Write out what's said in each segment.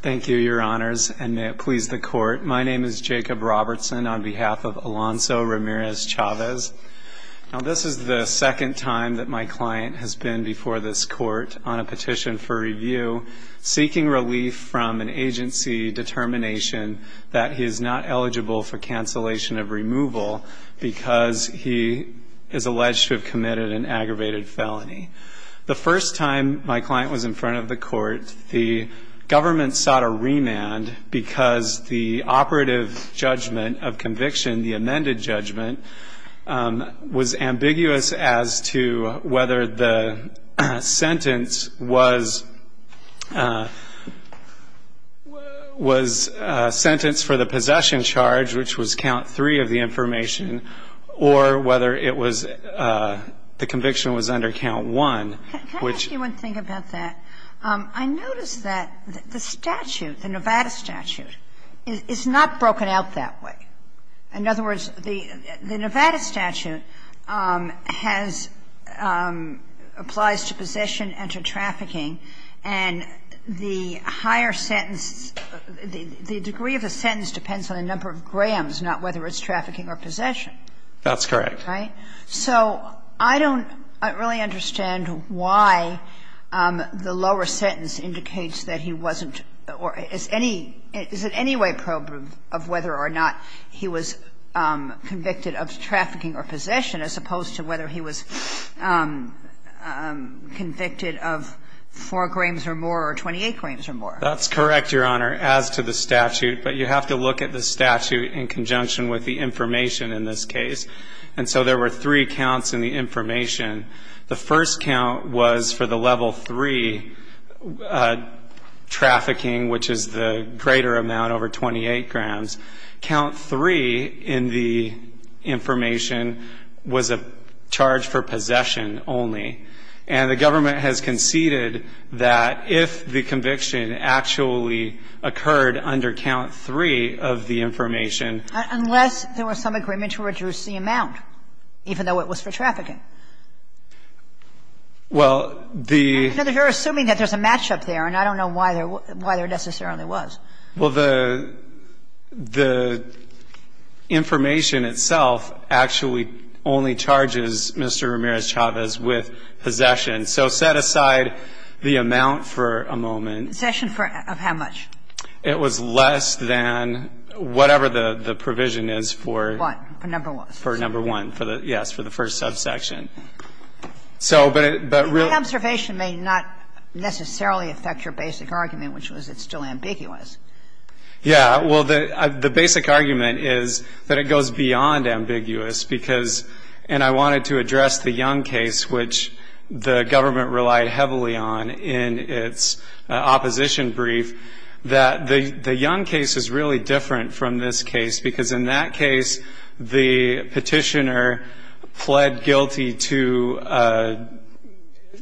Thank you, Your Honors, and may it please the Court. My name is Jacob Robertson on behalf of Alonso Ramirez-Chavez. Now, this is the second time that my client has been before this Court on a petition for review seeking relief from an agency determination that he is not eligible for cancellation of removal because he is alleged to have committed an aggravated felony. The first time my client was in front of the Court, the government sought a remand because the operative judgment of conviction, the amended judgment, was ambiguous as to whether the sentence was sentenced for the possession charge, which was count three of the information, or whether the conviction was under count one. Can I ask you one thing about that? I notice that the statute, the Nevada statute, is not broken out that way. In other words, the Nevada statute has – applies to possession and to trafficking, and the higher sentence – the degree of the sentence depends on the number of grams, not whether it's trafficking or possession. That's correct. Right? So I don't really understand why the lower sentence indicates that he wasn't – or is any – is it any way probe of whether or not he was convicted of trafficking or possession as opposed to whether he was convicted of 4 grams or more or 28 grams or more? That's correct, Your Honor, as to the statute, but you have to look at the statute in conjunction with the information in this case. And so there were three counts in the information. The first count was for the level three trafficking, which is the greater amount over 28 grams. Count three in the information was a charge for possession only. And the government has conceded that if the conviction actually occurred under count three of the information – Unless there was some agreement to reduce the amount, even though it was for trafficking. Well, the – I know that you're assuming that there's a match-up there, and I don't know why there – why there necessarily was. Well, the – the information itself actually only charges Mr. Ramirez-Chavez with possession. So set aside the amount for a moment. Possession for – of how much? It was less than whatever the provision is for – What? For number one? For number one. Yes, for the first subsection. So, but it – but really – Yeah. Well, the – the basic argument is that it goes beyond ambiguous because – and I wanted to address the Young case, which the government relied heavily on in its opposition brief, that the – the Young case is really different from this case because in that case the petitioner pled guilty to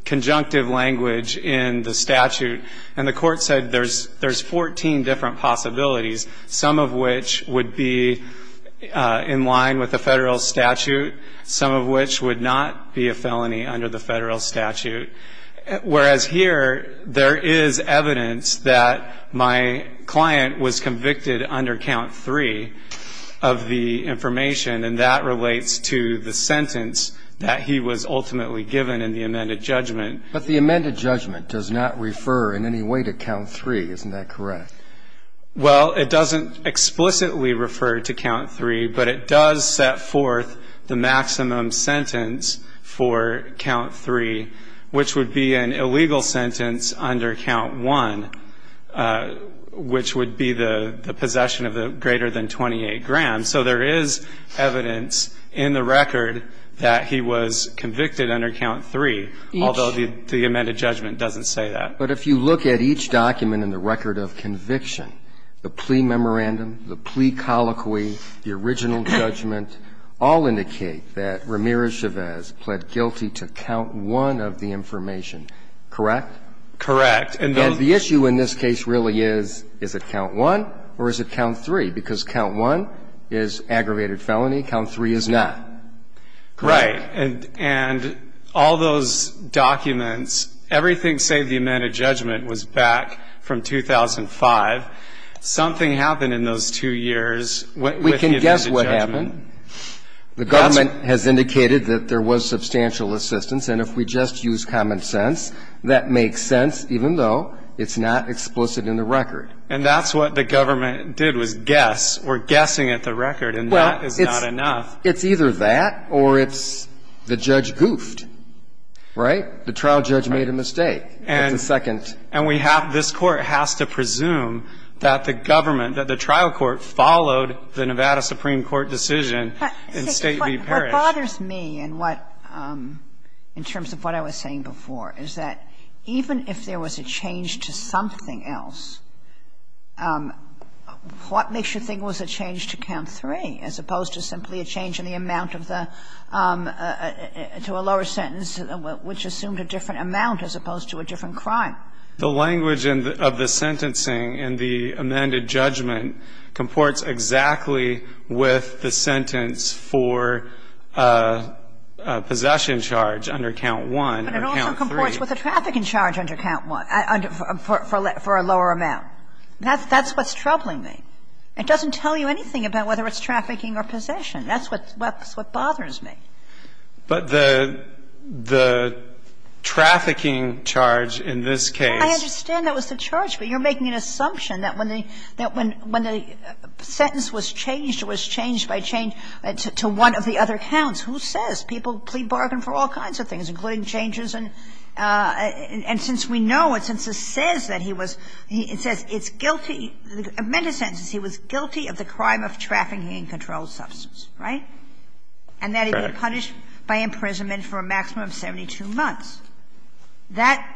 conjunctive language in the statute. And the court said there's – there's 14 different possibilities, some of which would be in line with the federal statute, some of which would not be a felony under the federal statute. Whereas here there is evidence that my client was convicted under count three of the information, and that relates to the sentence that he was ultimately given in the amended judgment. But the amended judgment does not refer in any way to count three. Isn't that correct? Well, it doesn't explicitly refer to count three, but it does set forth the maximum sentence for count three, which would be an illegal sentence under count one, which would be the – the possession of the greater than 28 grams. So there is evidence in the record that he was convicted under count three, although the amended judgment doesn't say that. But if you look at each document in the record of conviction, the plea memorandum, the plea colloquy, the original judgment all indicate that Ramirez-Chavez pled guilty to count one of the information, correct? Correct. And the issue in this case really is, is it count one or is it count three? Because count one is aggravated felony, count three is not. Right. And all those documents, everything save the amended judgment was back from 2005. Something happened in those two years. We can guess what happened. The government has indicated that there was substantial assistance. And if we just use common sense, that makes sense, even though it's not explicit in the record. And that's what the government did was guess. We're guessing at the record, and that is not enough. Well, it's either that or it's the judge goofed, right? The trial judge made a mistake. That's a second. And we have, this Court has to presume that the government, that the trial court followed the Nevada Supreme Court decision in State v. Parrish. What bothers me in what, in terms of what I was saying before, is that even if there was a change to something else, what makes you think it was a change to count three as opposed to simply a change in the amount of the, to a lower sentence, which assumed a different amount as opposed to a different crime? The language of the sentencing in the amended judgment comports exactly with the sentence for a possession charge under count one or count three. But it also comports with a trafficking charge under count one, for a lower amount. That's what's troubling me. It doesn't tell you anything about whether it's trafficking or possession. That's what bothers me. But the, the trafficking charge in this case. I understand that was the charge, but you're making an assumption that when the, that when the sentence was changed or was changed by change to one of the other counts, who says? People plead bargain for all kinds of things, including changes and, and since we know it, since it says that he was, it says it's guilty, the amended sentence is he was guilty of the crime of trafficking in controlled substance, right? Correct. And that he'd be punished by imprisonment for a maximum of 72 months. That,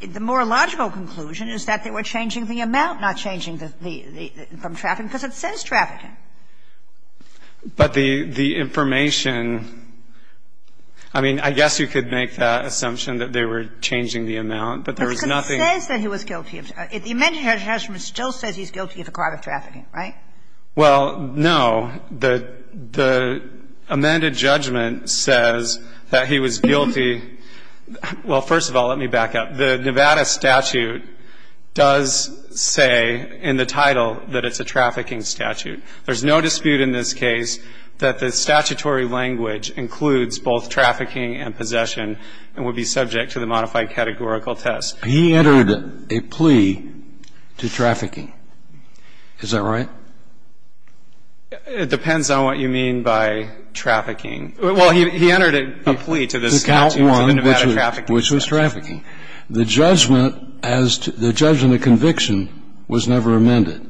the more logical conclusion is that they were changing the amount, not changing the, the, from trafficking, because it says trafficking. But the, the information, I mean, I guess you could make that assumption that they were changing the amount, but there was nothing. But it says that he was guilty. The amended judgment still says he's guilty of the crime of trafficking, right? Well, no. The, the amended judgment says that he was guilty. Well, first of all, let me back up. The Nevada statute does say in the title that it's a trafficking statute. There's no dispute in this case that the statutory language includes both trafficking and possession and would be subject to the modified categorical test. He entered a plea to trafficking. Is that right? It depends on what you mean by trafficking. Well, he, he entered a plea to the Nevada trafficking statute. The count one, which was, which was trafficking. The judgment as to, the judgment of conviction was never amended.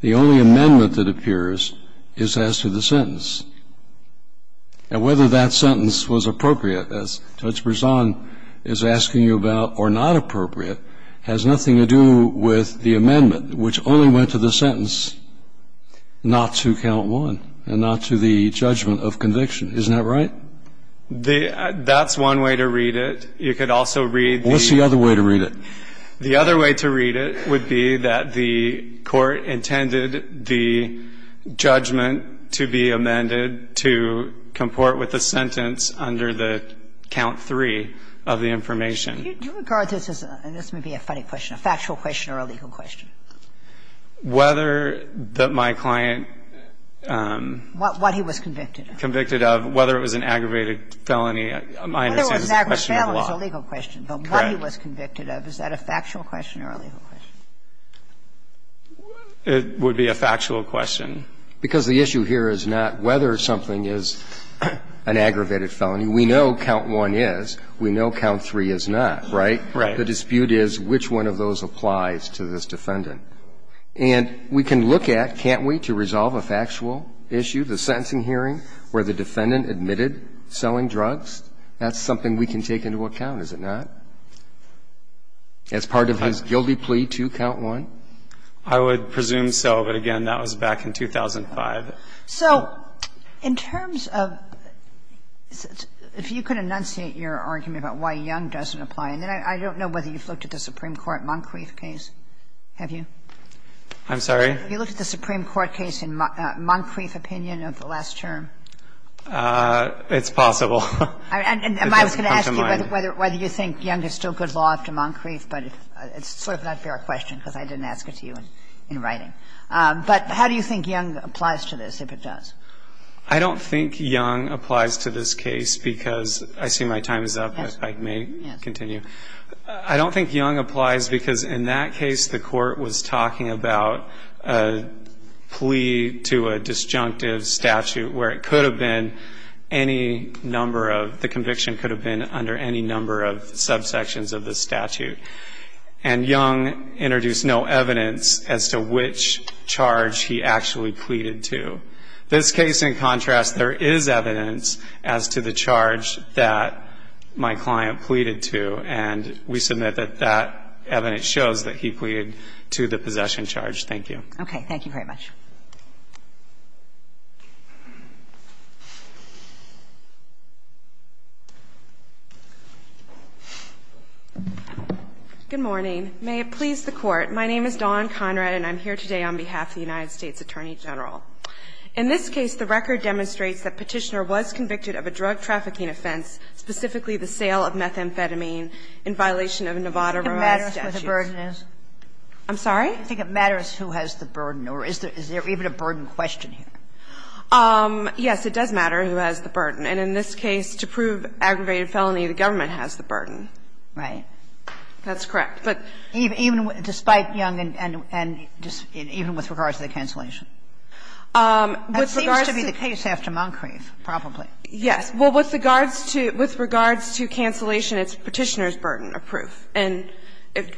The only amendment that appears is as to the sentence. And whether that sentence was appropriate, as Judge Berzon is asking you about, or not appropriate has nothing to do with the amendment, which only went to the sentence, not to count one, and not to the judgment of conviction. Isn't that right? The, that's one way to read it. You could also read the. What's the other way to read it? The other way to read it would be that the court intended the judgment to be amended to comport with the sentence under the count three of the information. You regard this as, and this may be a funny question, a factual question or a legal question? Whether that my client. What, what he was convicted of. Convicted of. Whether it was an aggravated felony, my understanding is a question of the law. Whether it was an aggravated felony is a legal question. Correct. But what he was convicted of, is that a factual question or a legal question? It would be a factual question. Because the issue here is not whether something is an aggravated felony. We know count one is. We know count three is not, right? Right. The dispute is which one of those applies to this defendant. And we can look at, can't we, to resolve a factual issue, the sentencing hearing where the defendant admitted selling drugs? That's something we can take into account, is it not? As part of his guilty plea to count one? I would presume so. But, again, that was back in 2005. So in terms of, if you could enunciate your argument about why Young doesn't apply, and then I don't know whether you've looked at the Supreme Court Moncrief case, have you? I'm sorry? Have you looked at the Supreme Court case in Moncrief opinion of the last term? It's possible. I was going to ask you whether you think Young is still good law after Moncrief, but it's sort of not a fair question because I didn't ask it to you in writing. But how do you think Young applies to this, if it does? I don't think Young applies to this case because I see my time is up. Yes. I may continue. I don't think Young applies because in that case the Court was talking about a plea to a disjunctive statute where it could have been any number of the conviction could have been under any number of subsections of the statute. And Young introduced no evidence as to which charge he actually pleaded to. This case, in contrast, there is evidence as to the charge that my client pleaded to, and we submit that that evidence shows that he pleaded to the possession charge. Thank you. Okay. Thank you very much. Good morning. May it please the Court. My name is Dawn Conrad, and I'm here today on behalf of the United States Attorney General. In this case, the record demonstrates that Petitioner was convicted of a drug trafficking offense, specifically the sale of methamphetamine in violation of Nevada Rural Statutes. Do you think it matters who the burden is? I'm sorry? Do you think it matters who has the burden, or is there even a burden question here? Yes, it does matter who has the burden. And in this case, to prove aggravated felony, the government has the burden. Right. That's correct. But even despite Young and even with regards to the cancellation? That seems to be the case after Moncrief, probably. Yes. Well, with regards to cancellation, it's Petitioner's burden of proof. And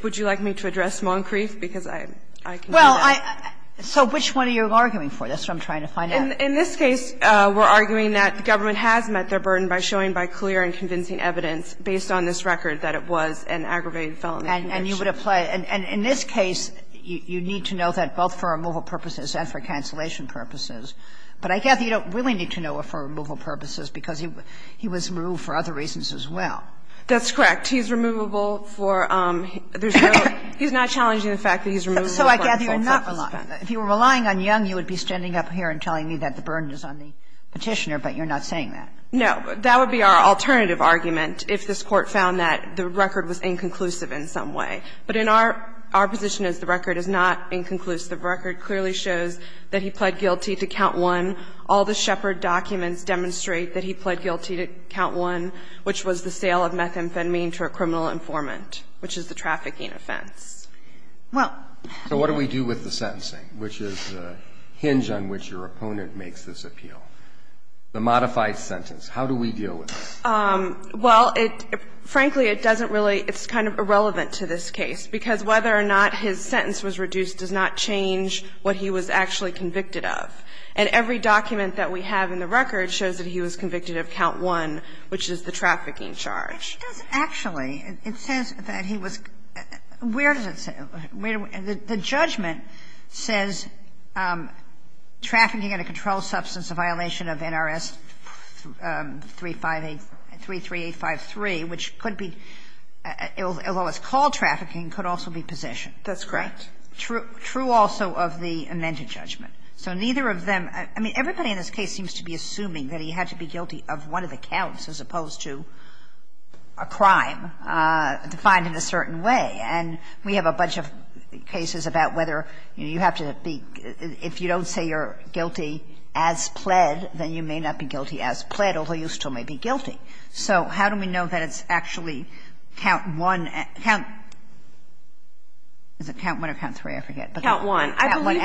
would you like me to address Moncrief, because I can do that? Well, I – so which one are you arguing for? That's what I'm trying to find out. In this case, we're arguing that the government has met their burden by showing by clear and convincing evidence, based on this record, that it was an aggravated felony conviction. And you would apply – and in this case, you need to know that both for removal purposes and for cancellation purposes. But I guess you don't really need to know it for removal purposes, because he was removed for other reasons as well. That's correct. He's removable for – there's no – he's not challenging the fact that he's removable for other purposes. If you were relying on Young, you would be standing up here and telling me that the burden is on the Petitioner, but you're not saying that. No. That would be our alternative argument, if this Court found that the record was inconclusive in some way. But in our – our position is the record is not inconclusive. The record clearly shows that he pled guilty to count one. All the Shepard documents demonstrate that he pled guilty to count one, which was the sale of methamphetamine to a criminal informant, which is the trafficking offense. Well – So what do we do with the sentencing, which is the hinge on which your opponent makes this appeal? The modified sentence. How do we deal with it? Well, it – frankly, it doesn't really – it's kind of irrelevant to this case, because whether or not his sentence was reduced does not change what he was actually convicted of. And every document that we have in the record shows that he was convicted of count one, which is the trafficking charge. It does actually. It says that he was – where does it say – the judgment says trafficking in a controlled substance, a violation of NRS 358 – 33853, which could be – although it's called trafficking, could also be possession. That's correct. True also of the amended judgment. So neither of them – I mean, everybody in this case seems to be assuming that he had to be guilty of one of the counts as opposed to a crime defined in a certain way. And we have a bunch of cases about whether you have to be – if you don't say you're guilty as pled, then you may not be guilty as pled, although you still may be guilty. So how do we know that it's actually count one – is it count one or count three? I forget. Count one. It doesn't say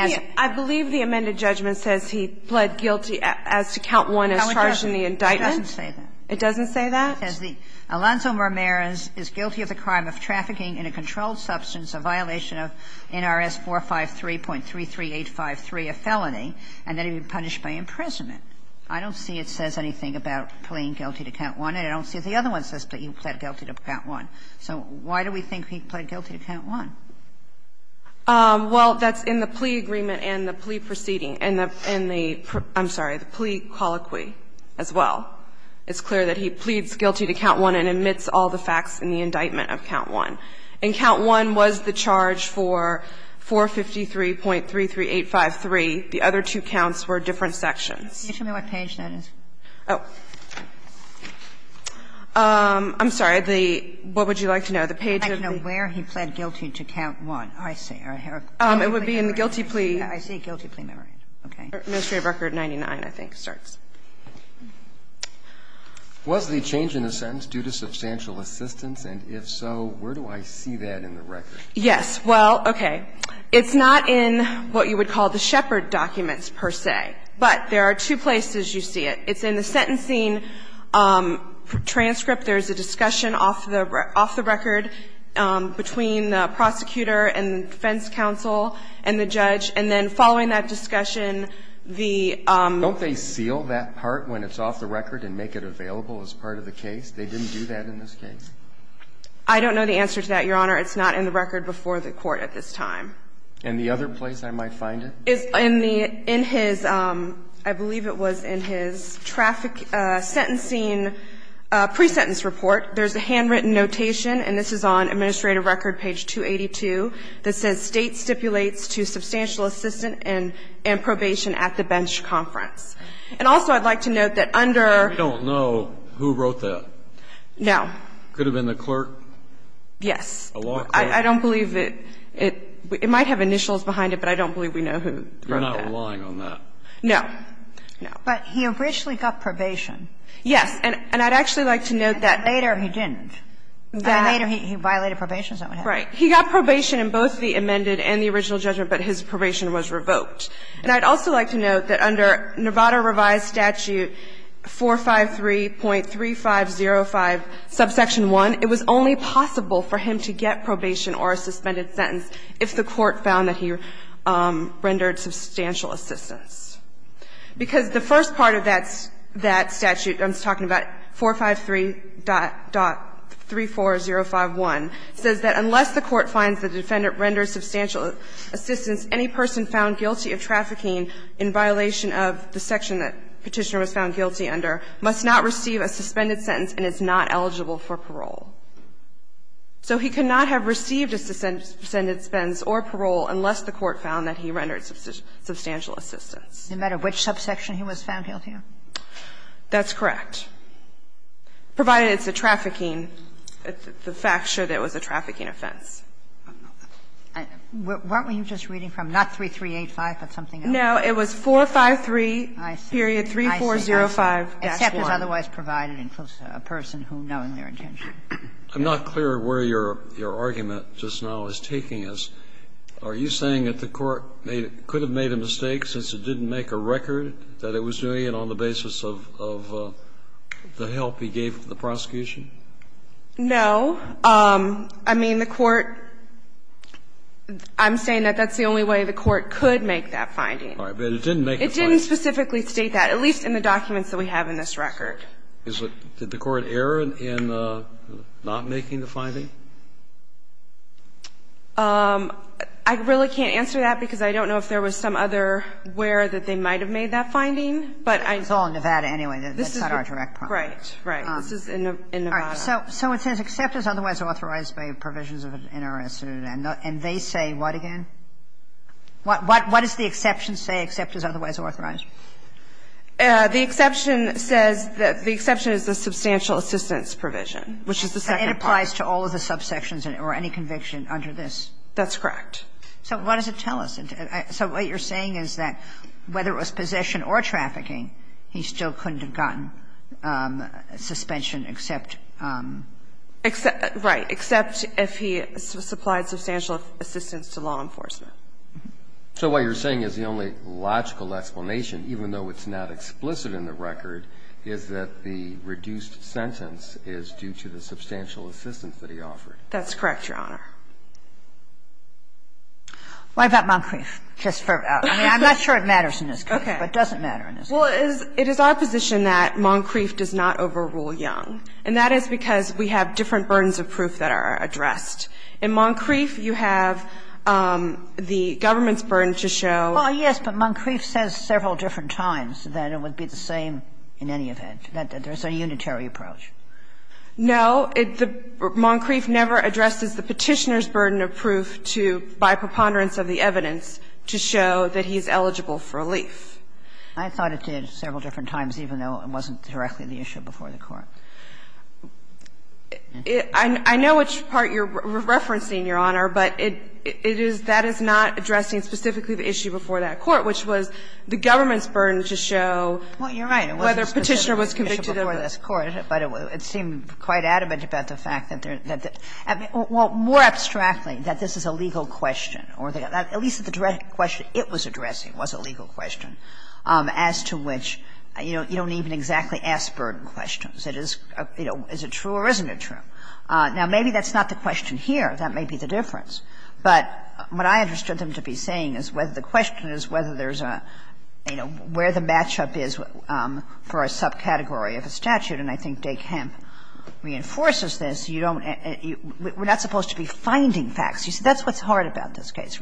that. It doesn't say that? It says the Alonzo Marmera is guilty of the crime of trafficking in a controlled substance, a violation of NRS 453.33853, a felony, and that he be punished by imprisonment. I don't see it says anything about pleading guilty to count one, and I don't see if the other one says that he pled guilty to count one. So why do we think he pled guilty to count one? Well, that's in the plea agreement and the plea proceeding and the – I'm sorry, the plea colloquy. It's clear that he pleads guilty to count one and admits all the facts in the indictment of count one. And count one was the charge for 453.33853. The other two counts were different sections. Can you tell me what page that is? Oh. I'm sorry. The – what would you like to know? The page of the – I'd like to know where he pled guilty to count one. I see. It would be in the guilty plea. I see guilty plea memorandum. Okay. Administrative record 99, I think, starts. Was the change in the sentence due to substantial assistance? And if so, where do I see that in the record? Yes. Well, okay. It's not in what you would call the Shepard documents, per se. But there are two places you see it. It's in the sentencing transcript. There's a discussion off the record between the prosecutor and the defense counsel and the judge. And then following that discussion, the – Don't they seal that part when it's off the record and make it available as part of the case? They didn't do that in this case. I don't know the answer to that, Your Honor. It's not in the record before the Court at this time. And the other place I might find it? In the – in his – I believe it was in his traffic sentencing pre-sentence report, there's a handwritten notation, and this is on administrative record page 282, that says, And also, I'd like to note that under – And we don't know who wrote that. No. Could have been the clerk? Yes. A law clerk? I don't believe that it – it might have initials behind it, but I don't believe we know who wrote that. You're not relying on that? No. No. But he originally got probation. Yes. And I'd actually like to note that – Later he violated probation, is that what happened? Right. He got probation in both the amendments and the sentencing transcript. He was suspended in the original judgment, but his probation was revoked. And I'd also like to note that under Nevada Revised Statute 453.3505, subsection 1, it was only possible for him to get probation or a suspended sentence if the Court found that he rendered substantial assistance. Because the first part of that – that statute, I'm talking about 453.34051, says that unless the Court finds the defendant rendered substantial assistance, any person found guilty of trafficking in violation of the section that Petitioner was found guilty under must not receive a suspended sentence and is not eligible for parole. So he cannot have received a suspended sentence or parole unless the Court found that he rendered substantial assistance. No matter which subsection he was found guilty of? That's correct. Provided it's a trafficking – the facts show that it was a trafficking offense. I don't know that. Weren't we just reading from not 3385, but something else? No. It was 453.3405-1. I see. Except it was otherwise provided in person who knowing their intention. I'm not clear where your argument just now is taking us. Are you saying that the Court could have made a mistake since it didn't make a record that it was doing it on the basis of the help he gave to the prosecution? No. I mean, the Court – I'm saying that that's the only way the Court could make that finding. All right. But it didn't make the finding. It didn't specifically state that, at least in the documents that we have in this record. Is it – did the Court err in not making the finding? I really can't answer that because I don't know if there was some other where that they might have made that finding, but I – It's all in Nevada anyway. That's not our direct problem. Right. Right. This is in Nevada. All right. So it says except as otherwise authorized by provisions of an NRS and they say what again? What does the exception say except as otherwise authorized? The exception says that the exception is the substantial assistance provision, which is the second part. It applies to all of the subsections or any conviction under this? That's correct. So what does it tell us? So what you're saying is that whether it was possession or trafficking, he still couldn't have gotten suspension except – Right. Except if he supplied substantial assistance to law enforcement. So what you're saying is the only logical explanation, even though it's not explicit in the record, is that the reduced sentence is due to the substantial assistance that he offered. That's correct, Your Honor. What about Moncrief? I mean, I'm not sure it matters in this case, but it doesn't matter in this case. Well, it is our position that Moncrief does not overrule Young, and that is because we have different burdens of proof that are addressed. In Moncrief, you have the government's burden to show – Well, yes, but Moncrief says several different times that it would be the same in any event, that there's a unitary approach. No. Moncrief never addresses the Petitioner's burden of proof to, by preponderance of the evidence, to show that he is eligible for relief. I thought it did several different times, even though it wasn't directly the issue before the Court. I know which part you're referencing, Your Honor, but it is – that is not addressing specifically the issue before that Court, which was the government's burden to show whether Petitioner was convicted of a crime. Well, I don't think it was addressed before this Court, but it seemed quite adamant about the fact that there – well, more abstractly, that this is a legal question or at least the question it was addressing was a legal question as to which you don't even exactly ask burden questions. It is, you know, is it true or isn't it true? Now, maybe that's not the question here. That may be the difference. But what I understood them to be saying is whether the question is whether there's a, you know, where the match-up is for a subcategory of a statute, and I think De Kemp reinforces this, you don't – we're not supposed to be finding facts. You see, that's what's hard about this case.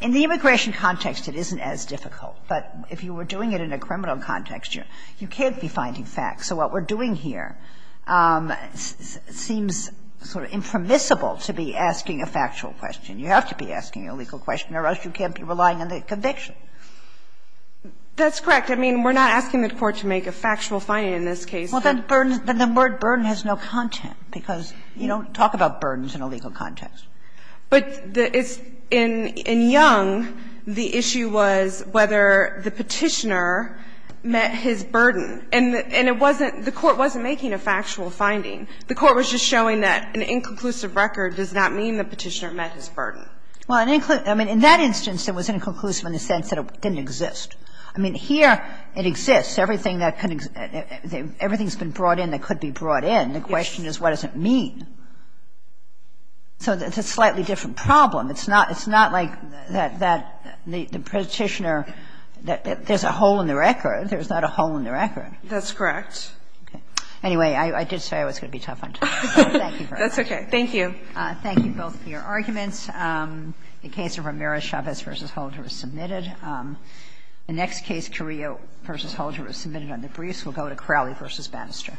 In the immigration context, it isn't as difficult. But if you were doing it in a criminal context, you can't be finding facts. So what we're doing here seems sort of impermissible to be asking a factual question. You have to be asking a legal question or else you can't be relying on the conviction. That's correct. I mean, we're not asking the Court to make a factual finding in this case. Well, that burden – the word burden has no content, because you don't talk about burdens in a legal context. But it's – in Young, the issue was whether the Petitioner met his burden. And it wasn't – the Court wasn't making a factual finding. The Court was just showing that an inconclusive record does not mean the Petitioner met his burden. Well, in that instance, it was inconclusive in the sense that it didn't exist. I mean, here it exists. Everything that could – everything's been brought in that could be brought in. The question is, what does it mean? So it's a slightly different problem. It's not like that the Petitioner – there's a hole in the record. There's not a hole in the record. That's correct. Anyway, I did say I was going to be tough on you, so thank you very much. That's okay. Thank you. Thank you both for your arguments. The case of Ramirez-Chavez v. Holder is submitted. The next case, Carrillo v. Holder, is submitted under briefs. We'll go to Crowley v. Bannister.